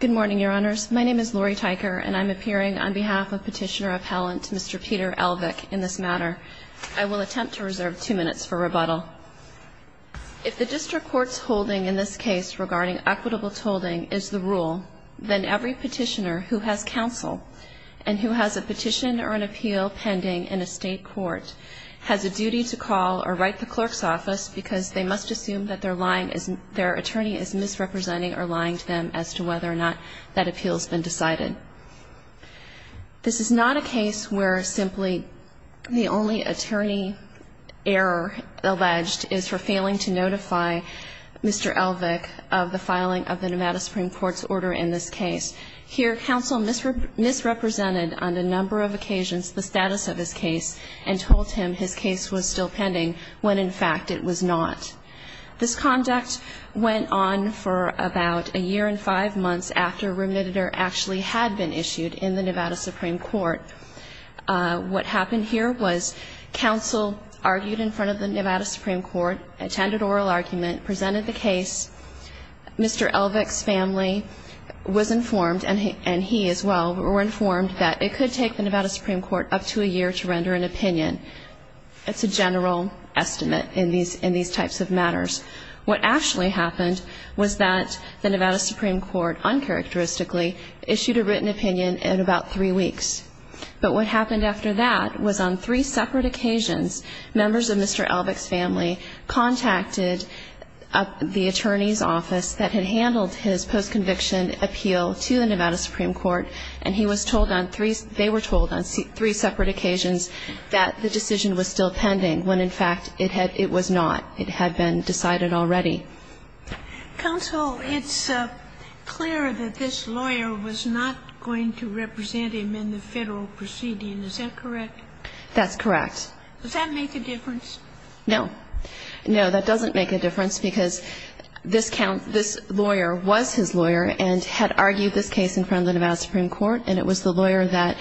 Good morning, Your Honors. My name is Lori Teicher, and I'm appearing on behalf of Petitioner Appellant Mr. Peter Elvik in this matter. I will attempt to reserve two minutes for rebuttal. If the District Court's holding in this case regarding equitable tolling is the rule, then every petitioner who has counsel and who has a petition or an appeal pending in a state court has a duty to call or write the clerk's office because they must assume that their attorney is misrepresenting or lying to them as to whether or not that appeal has been decided. This is not a case where simply the only attorney error alleged is for failing to notify Mr. Elvik of the filing of the Nevada Supreme Court's order in this case. Here, counsel misrepresented on a number of occasions the status of his case and told him his case was still pending when in fact it was not. This conduct went on for about a year and five months after remitted or actually had been issued in the Nevada Supreme Court. What happened here was counsel argued in front of the Nevada Supreme Court, attended oral argument, presented the case. Mr. Elvik's family was informed, and he as well, were informed that it could take the Nevada Supreme Court up to a year to render an opinion. It's a general estimate in these in these types of matters. What actually happened was that the Nevada Supreme Court, uncharacteristically, issued a written opinion in about three weeks. But what happened after that was on three separate occasions, members of Mr. Elvik's family contacted the attorney's office that had handled his post-conviction appeal to the Nevada Supreme Court, and he was told on three, they were told on three separate occasions that the decision was still pending when in fact it had, it was not. It had been decided already. Counsel, it's clear that this lawyer was not going to represent him in the federal proceeding. Is that correct? That's correct. Does that make a difference? No. No, that doesn't make a difference because this lawyer was his lawyer and had argued this case in front of the Nevada Supreme Court, and it was the lawyer that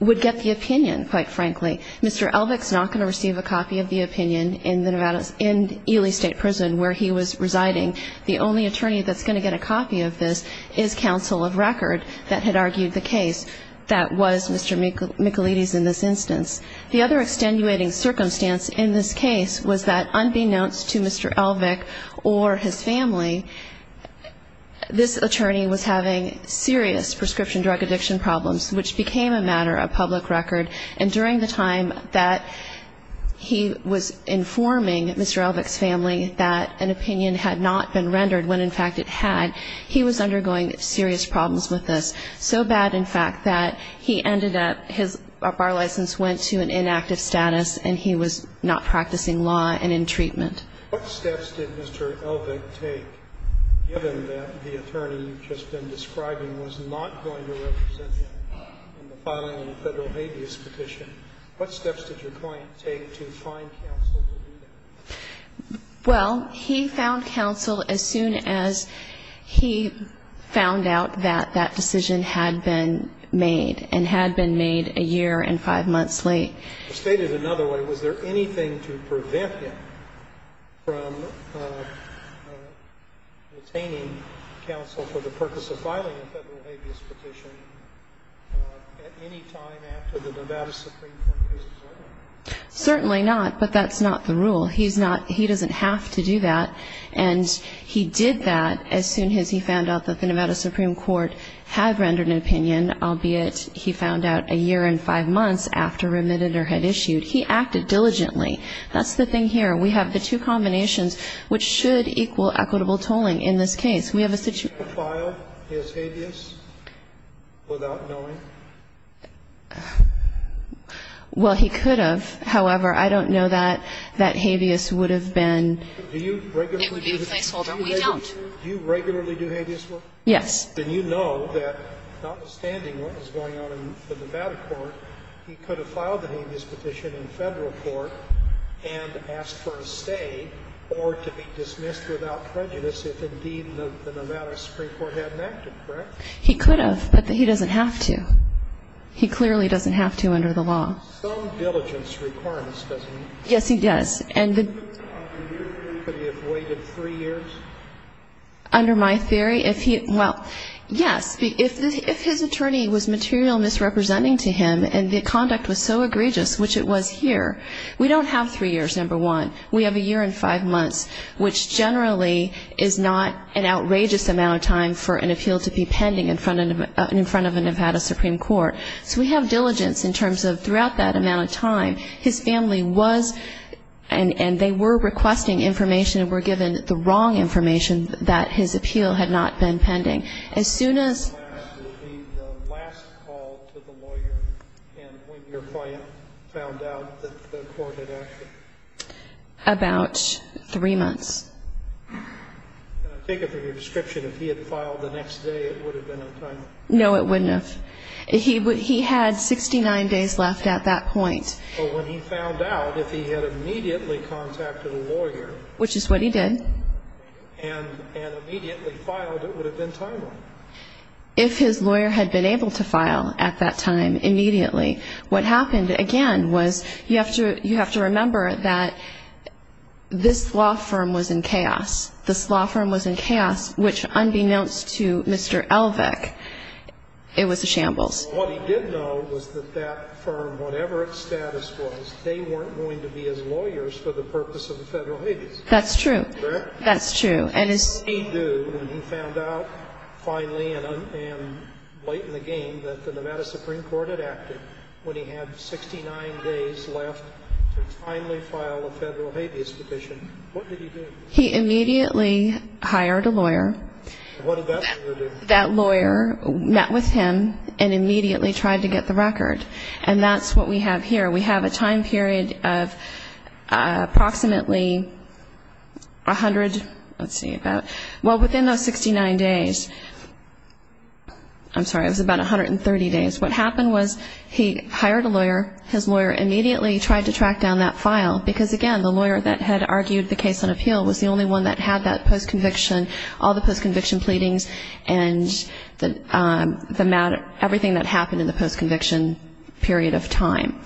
would get the opinion, quite frankly. Mr. Elvik's not going to receive a copy of the opinion in the Nevada, in Ely State Prison, where he was residing. The only attorney that's going to get a copy of this is Counsel of Record that had argued the case. That was Mr. Michelides in this instance. The other extenuating circumstance in this case was that, unbeknownst to Mr. Elvik, or his family, this attorney was having serious prescription drug addiction problems, which became a matter of public record, and during the time that he was informing Mr. Elvik's family that an opinion had not been rendered when in fact it had, he was undergoing serious problems with this. So bad, in fact, that he ended up, his bar license went to an inactive status, and he was not practicing law and in treatment. What steps did Mr. Elvik take, given that the attorney you've just been describing was not going to represent him in the filing of the Federal Habeas Petition, what steps did your client take to find counsel to do that? Well, he found counsel as soon as he found out that that decision had been made, and had been made a year and five months late. Stated another way, was there anything to prevent him from obtaining counsel for the purpose of filing a Federal Habeas Petition at any time after the Nevada Supreme Court case was over? Certainly not, but that's not the rule. He's not, he doesn't have to do that, and he did that as soon as he found out that the Nevada Supreme Court had rendered an opinion, albeit he found out a year and five months after remitted or had issued. He acted diligently. That's the thing here. We have the two combinations which should equal equitable tolling in this case. Could he have filed his habeas without knowing? Well, he could have. However, I don't know that that habeas would have been. It would be a placeholder. We don't. Do you regularly do habeas work? Yes. Then you know that notwithstanding what was going on in the Nevada court, he could have filed the habeas petition in Federal court and asked for a stay or to be dismissed without prejudice if indeed the Nevada Supreme Court hadn't acted, correct? He could have, but he doesn't have to. He clearly doesn't have to under the law. He has some diligence requirements, doesn't he? Yes, he does. Could he have waited three years? Under my theory, well, yes. If his attorney was material misrepresenting to him and the conduct was so egregious, which it was here, we don't have three years, number one. We have a year and five months, which generally is not an outrageous amount of time for an appeal to be pending in front of a Nevada Supreme Court. So we have diligence in terms of throughout that amount of time, his family was and they were requesting information and were given the wrong information that his appeal had not been pending. As soon as the last call to the lawyer and when your client found out that the court had acted? About three months. Can I take it from your description, if he had filed the next day, it would have been on time? No, it wouldn't have. He had 69 days left at that point. But when he found out, if he had immediately contacted a lawyer. Which is what he did. And immediately filed, it would have been timely. If his lawyer had been able to file at that time immediately, what happened again was you have to remember that this law firm was in chaos. This law firm was in chaos, which unbeknownst to Mr. Elvick, it was a shambles. What he did know was that that firm, whatever its status was, they weren't going to be his lawyers for the purpose of the federal habeas. That's true. Correct? That's true. What did he do when he found out finally and late in the game that the Nevada Supreme Court had acted when he had 69 days left to finally file a federal habeas petition? What did he do? He immediately hired a lawyer. What did that lawyer do? That lawyer met with him and immediately tried to get the record. And that's what we have here. We have a time period of approximately 100, let's see, well, within those 69 days. I'm sorry, it was about 130 days. What happened was he hired a lawyer, his lawyer immediately tried to track down that file because, again, the lawyer that had argued the case on appeal was the only one that had that post-conviction, all the post-conviction pleadings and everything that happened in the post-conviction period of time.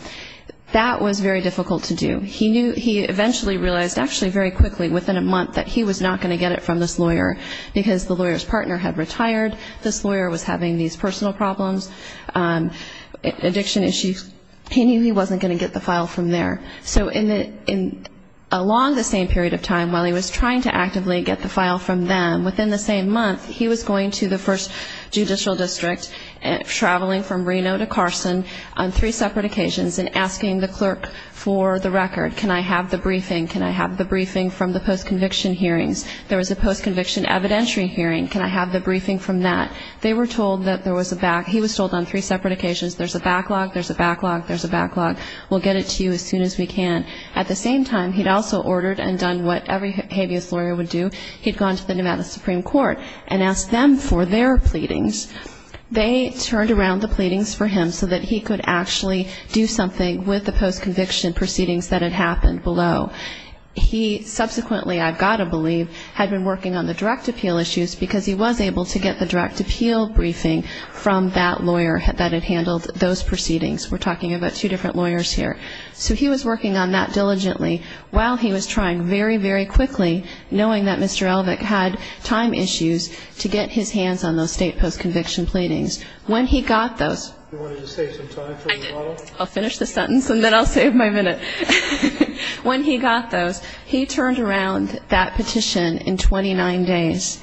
That was very difficult to do. He eventually realized actually very quickly within a month that he was not going to get it from this lawyer because the lawyer's partner had retired, this lawyer was having these personal problems, addiction issues, he wasn't going to get the file from there. So along the same period of time, while he was trying to actively get the file from them, within the same month he was going to the first judicial district, traveling from Reno to Carson on three separate occasions and asking the clerk for the record, can I have the briefing, can I have the briefing from the post-conviction hearings. There was a post-conviction evidentiary hearing. Can I have the briefing from that. They were told that there was a back, he was told on three separate occasions, there's a backlog, there's a backlog, there's a backlog. We'll get it to you as soon as we can. At the same time, he'd also ordered and done what every habeas lawyer would do. He'd gone to the Nevada Supreme Court and asked them for their pleadings. They turned around the pleadings for him so that he could actually do something with the post-conviction proceedings that had happened below. He subsequently, I've got to believe, had been working on the direct appeal issues because he was able to get the direct appeal briefing from that lawyer that had handled those proceedings. We're talking about two different lawyers here. So he was working on that diligently while he was trying very, very quickly, knowing that Mr. Elvick had time issues, to get his hands on those state post-conviction pleadings. When he got those. I'll finish the sentence and then I'll save my minute. When he got those, he turned around that petition in 29 days.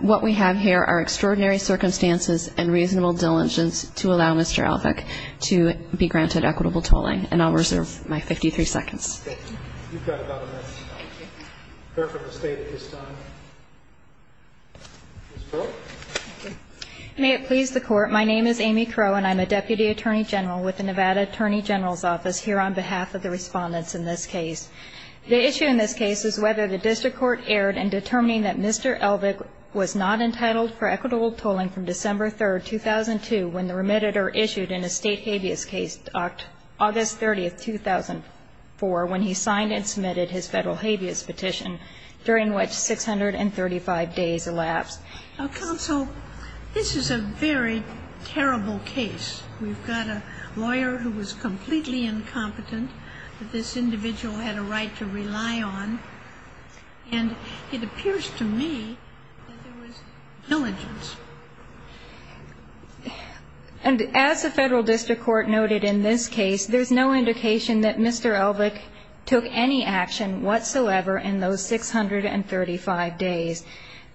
What we have here are extraordinary circumstances and reasonable diligence to allow Mr. Elvick to be granted equitable tolling. And I'll reserve my 53 seconds. Thank you. You've got about a minute. Okay. Fair for the State at this time. Ms. Crow? May it please the Court. My name is Amy Crow and I'm a Deputy Attorney General with the Nevada Attorney General's Office here on behalf of the respondents in this case. The issue in this case is whether the district court erred in determining that Mr. Elvick was not entitled for equitable tolling from December 3, 2002, when the remitted or issued an estate habeas case, August 30, 2004, when he signed and submitted his federal habeas petition, during which 635 days elapsed. Now, Counsel, this is a very terrible case. We've got a lawyer who was completely incompetent that this individual had a right to rely on. And it appears to me that there was diligence. And as the federal district court noted in this case, there's no indication that Mr. Elvick took any action whatsoever in those 635 days.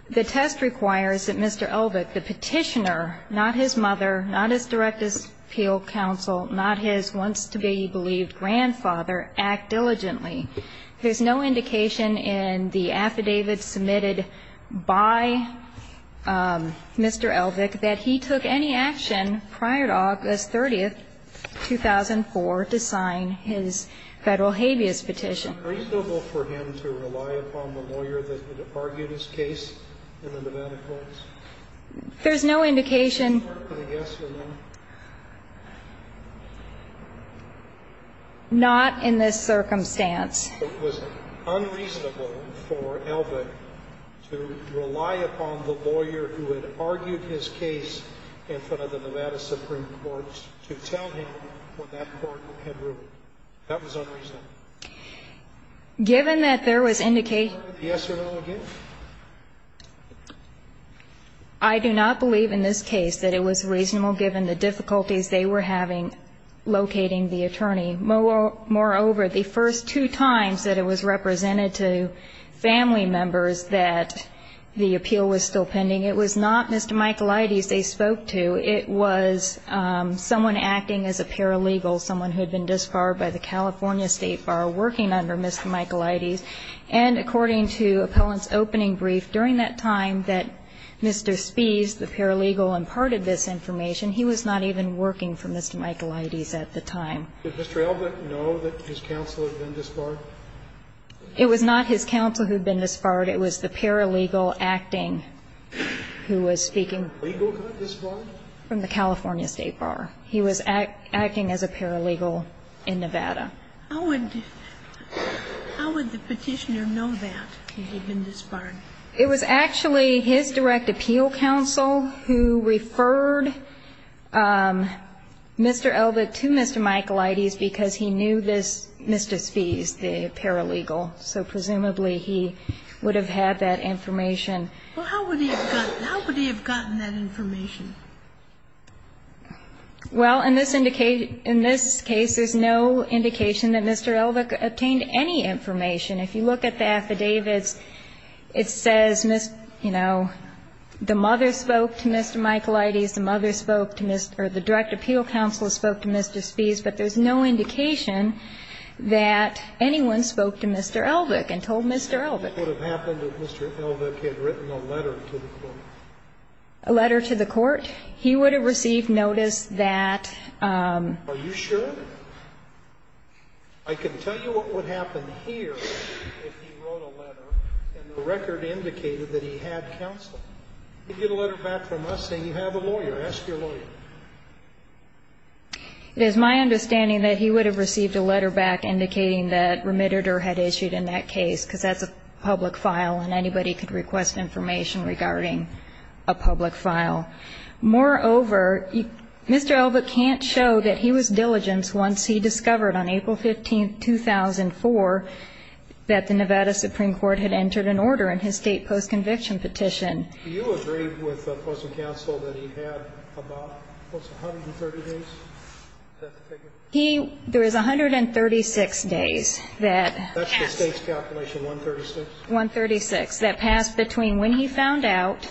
The test requires that Mr. Elvick, the petitioner, not his mother, not his direct appeal counsel, not his once-to-be-believed grandfather, act diligently. There's no indication in the affidavit submitted by Mr. Elvick that he took any action prior to August 30, 2004, to sign his federal habeas petition. Was it unreasonable for him to rely upon the lawyer that had argued his case in the Nevada courts? There's no indication. Was it hard for the guess to know? Not in this circumstance. Was it unreasonable for Elvick to rely upon the lawyer who had argued his case in front of the Nevada Supreme Court to tell him what that court had ruled? That was unreasonable. Given that there was indication. Was it hard for the guess to know again? I do not believe in this case that it was reasonable, given the difficulties they were having locating the attorney. Moreover, the first two times that it was represented to family members that the appeal was still pending, it was not Mr. Michaelides they spoke to. It was someone acting as a paralegal, someone who had been disbarred by the California State Bar working under Mr. Michaelides. And according to appellant's opening brief, during that time that Mr. Spies, the paralegal, imparted this information, he was not even working for Mr. Michaelides at the time. Did Mr. Elvick know that his counsel had been disbarred? It was not his counsel who had been disbarred. It was the paralegal acting who was speaking from the California State Bar. He was acting as a paralegal in Nevada. How would the Petitioner know that he had been disbarred? It was actually his direct appeal counsel who referred Mr. Elvick to Mr. Michaelides because he knew this Mr. Spies, the paralegal. So presumably he would have had that information. Well, how would he have gotten that information? Well, in this indication, in this case, there's no indication that Mr. Elvick obtained any information. If you look at the affidavits, it says, you know, the mother spoke to Mr. Michaelides, the mother spoke to Mr. or the direct appeal counsel spoke to Mr. Spies, but there's no indication that anyone spoke to Mr. Elvick and told Mr. Elvick. What would have happened if Mr. Elvick had written a letter to the court? A letter to the court? He would have received notice that... Are you sure? I can tell you what would happen here if he wrote a letter and the record indicated that he had counsel. He'd get a letter back from us saying you have a lawyer. Ask your lawyer. It is my understanding that he would have received a letter back indicating that remitted or had issued in that case, because that's a public file and anybody could request information regarding a public file. Moreover, Mr. Elvick can't show that he was diligent once he discovered on April 15, 2004, that the Nevada Supreme Court had entered an order in his state post-conviction petition. Do you agree with the Postal Council that he had about, what's it, 130 days? Is that the figure? He, there was 136 days that passed. That's the state's calculation, 136? 136, that passed between when he found out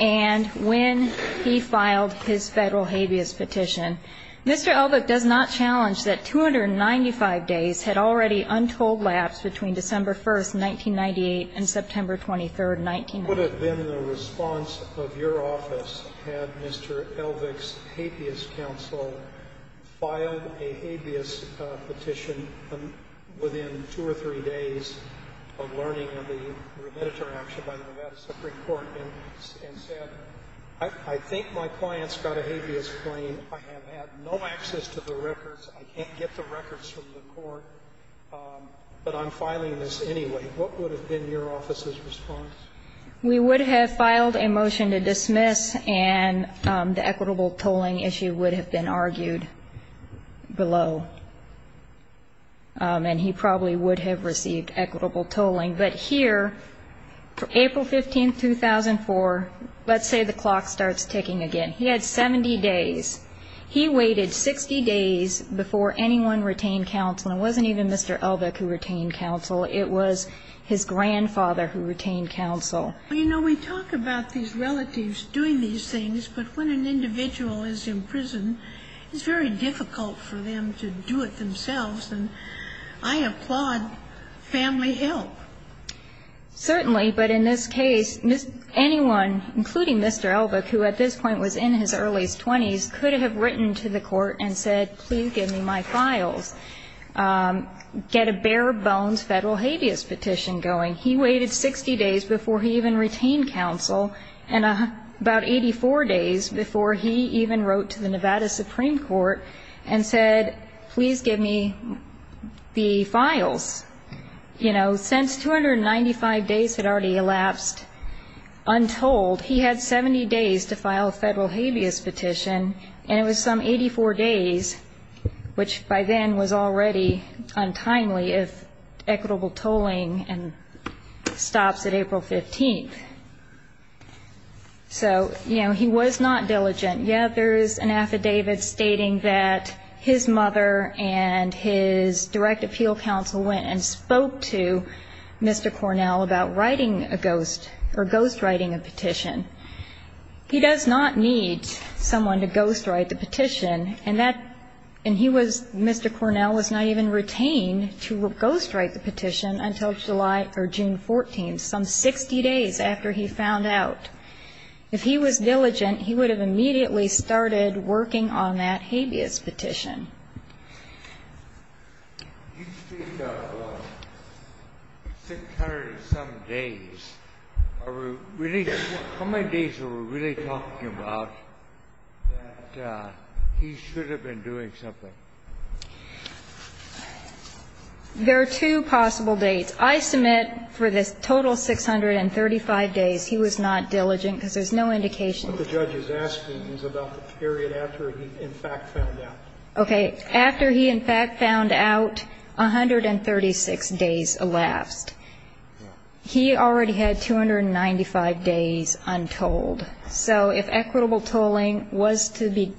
and when he filed his Federal habeas petition. Mr. Elvick does not challenge that 295 days had already untold lapse between December 1, 1998 and September 23, 1990. What would have been the response of your office had Mr. Elvick's habeas counsel filed a habeas petition within two or three days of learning of the remitted action by the Nevada Supreme Court and said, I think my client's got a habeas claim. I have had no access to the records. I can't get the records from the court, but I'm filing this anyway. What would have been your office's response? We would have filed a motion to dismiss, and the equitable tolling issue would have been argued below. And he probably would have received equitable tolling. But here, April 15, 2004, let's say the clock starts ticking again. He had 70 days. He waited 60 days before anyone retained counsel, and it wasn't even Mr. Elvick who retained counsel. It was his grandfather who retained counsel. You know, we talk about these relatives doing these things, but when an individual is in prison, it's very difficult for them to do it themselves. And I applaud family help. Certainly. But in this case, anyone, including Mr. Elvick, who at this point was in his earliest 20s, could have written to the court and said, please give me my files. Get a bare-bones federal habeas petition going. He waited 60 days before he even retained counsel, and about 84 days before he even wrote to the Nevada Supreme Court and said, please give me the files. You know, since 295 days had already elapsed untold, he had 70 days to file a federal habeas petition, and that was already untimely if equitable tolling stops at April 15th. So, you know, he was not diligent. Yet there is an affidavit stating that his mother and his direct appeal counsel went and spoke to Mr. Cornell about writing a ghost or ghostwriting a petition. He does not need someone to ghostwrite the petition. And that, and he was, Mr. Cornell was not even retained to ghostwrite the petition until July or June 14th, some 60 days after he found out. If he was diligent, he would have immediately started working on that habeas petition. You speak of 600-some days. Are we really, how many days are we really talking about that he should have been doing something? There are two possible dates. I submit for this total 635 days he was not diligent, because there's no indication that he was. What the judge is asking is about the period after he in fact found out. Okay, after he in fact found out, 136 days elapsed. He already had 295 days untold. So if equitable tolling was to be,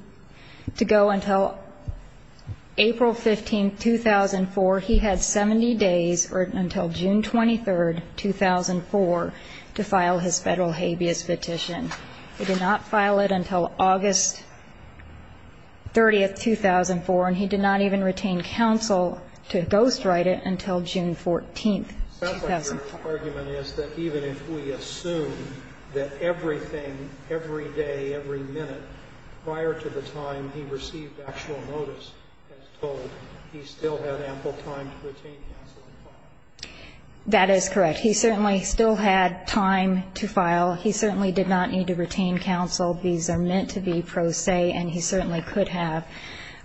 to go until April 15th, 2004, he had 70 days, or until June 23rd, 2004, to file his federal habeas petition. He did not file it until August 30th, 2004. And he did not even retain counsel to ghostwrite it until June 14th, 2004. Sounds like your argument is that even if we assume that everything, every day, every minute, prior to the time he received actual notice, as told, he still had ample time to retain counsel and file. He certainly still had time to file. He certainly did not need to retain counsel. These are meant to be pro se, and he certainly could have.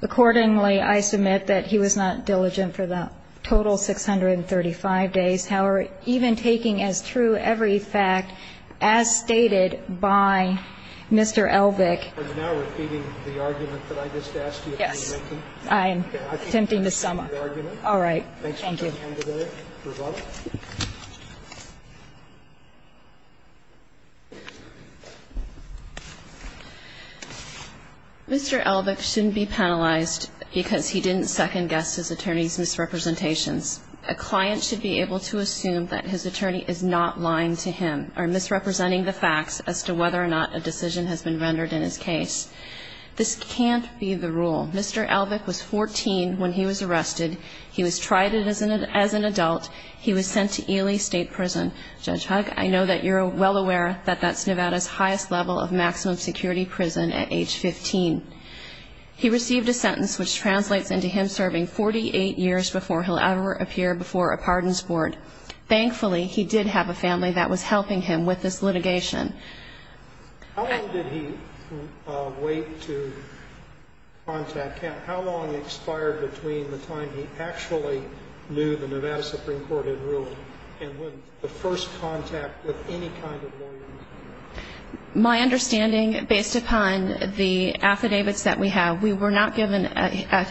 Accordingly, I submit that he was not diligent for the total 635 days. However, even taking as true every fact as stated by Mr. Elvick. Are you now repeating the argument that I just asked you to make? I am attempting to sum up. Okay. I think I understand the argument. All right. Thank you. Mr. Elvick shouldn't be penalized because he didn't second-guess his attorney's misrepresentations. A client should be able to assume that his attorney is not lying to him or misrepresenting the facts as to whether or not a decision has been rendered in his case. This can't be the rule. Mr. Elvick was 14 when he was arrested. He was tried and is in a detention facility. As an adult, he was sent to Ely State Prison. Judge Hugg, I know that you're well aware that that's Nevada's highest level of maximum security prison at age 15. He received a sentence which translates into him serving 48 years before he'll ever appear before a pardons board. Thankfully, he did have a family that was helping him with this litigation. How long did he wait to contact Ken? How long expired between the time he actually knew the Nevada Supreme Court had ruled and when the first contact with any kind of lawyer was made? My understanding, based upon the affidavits that we have, we were not given a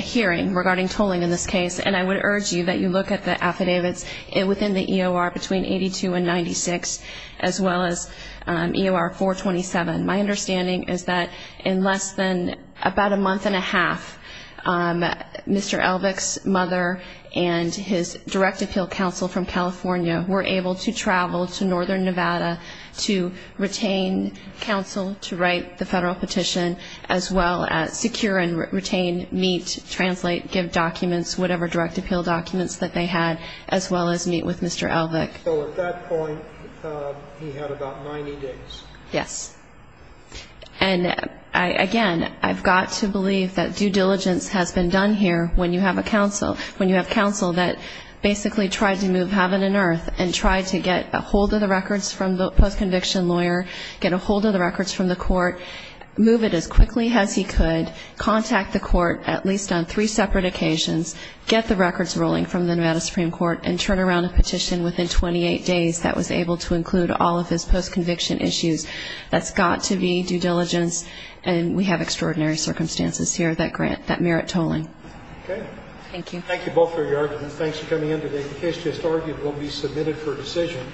hearing regarding tolling in this case. And I would urge you that you look at the affidavits within the EOR between 1982 and 1996 as well as EOR 427. My understanding is that in less than about a month and a half, Mr. Elvick's mother and his direct appeal counsel from California were able to travel to northern Nevada to retain counsel to write the federal petition as well as secure and retain, meet, translate, give documents, whatever direct appeal documents that they had, as well as meet with Mr. Elvick. So at that point, he had about 90 days. Yes. And, again, I've got to believe that due diligence has been done here when you have a counsel, when you have counsel that basically tried to move heaven and earth and tried to get a hold of the records from the post-conviction lawyer, get a hold of the records from the court, move it as quickly as he could, contact the court at least on three separate occasions, get the records rolling from the Nevada Supreme Court, and turn around a petition within 28 days that was able to include all of his post-conviction issues. That's got to be due diligence, and we have extraordinary circumstances here that merit tolling. Okay. Thank you. Thank you both for your arguments. Thanks for coming in today. The case just argued will be submitted for decision.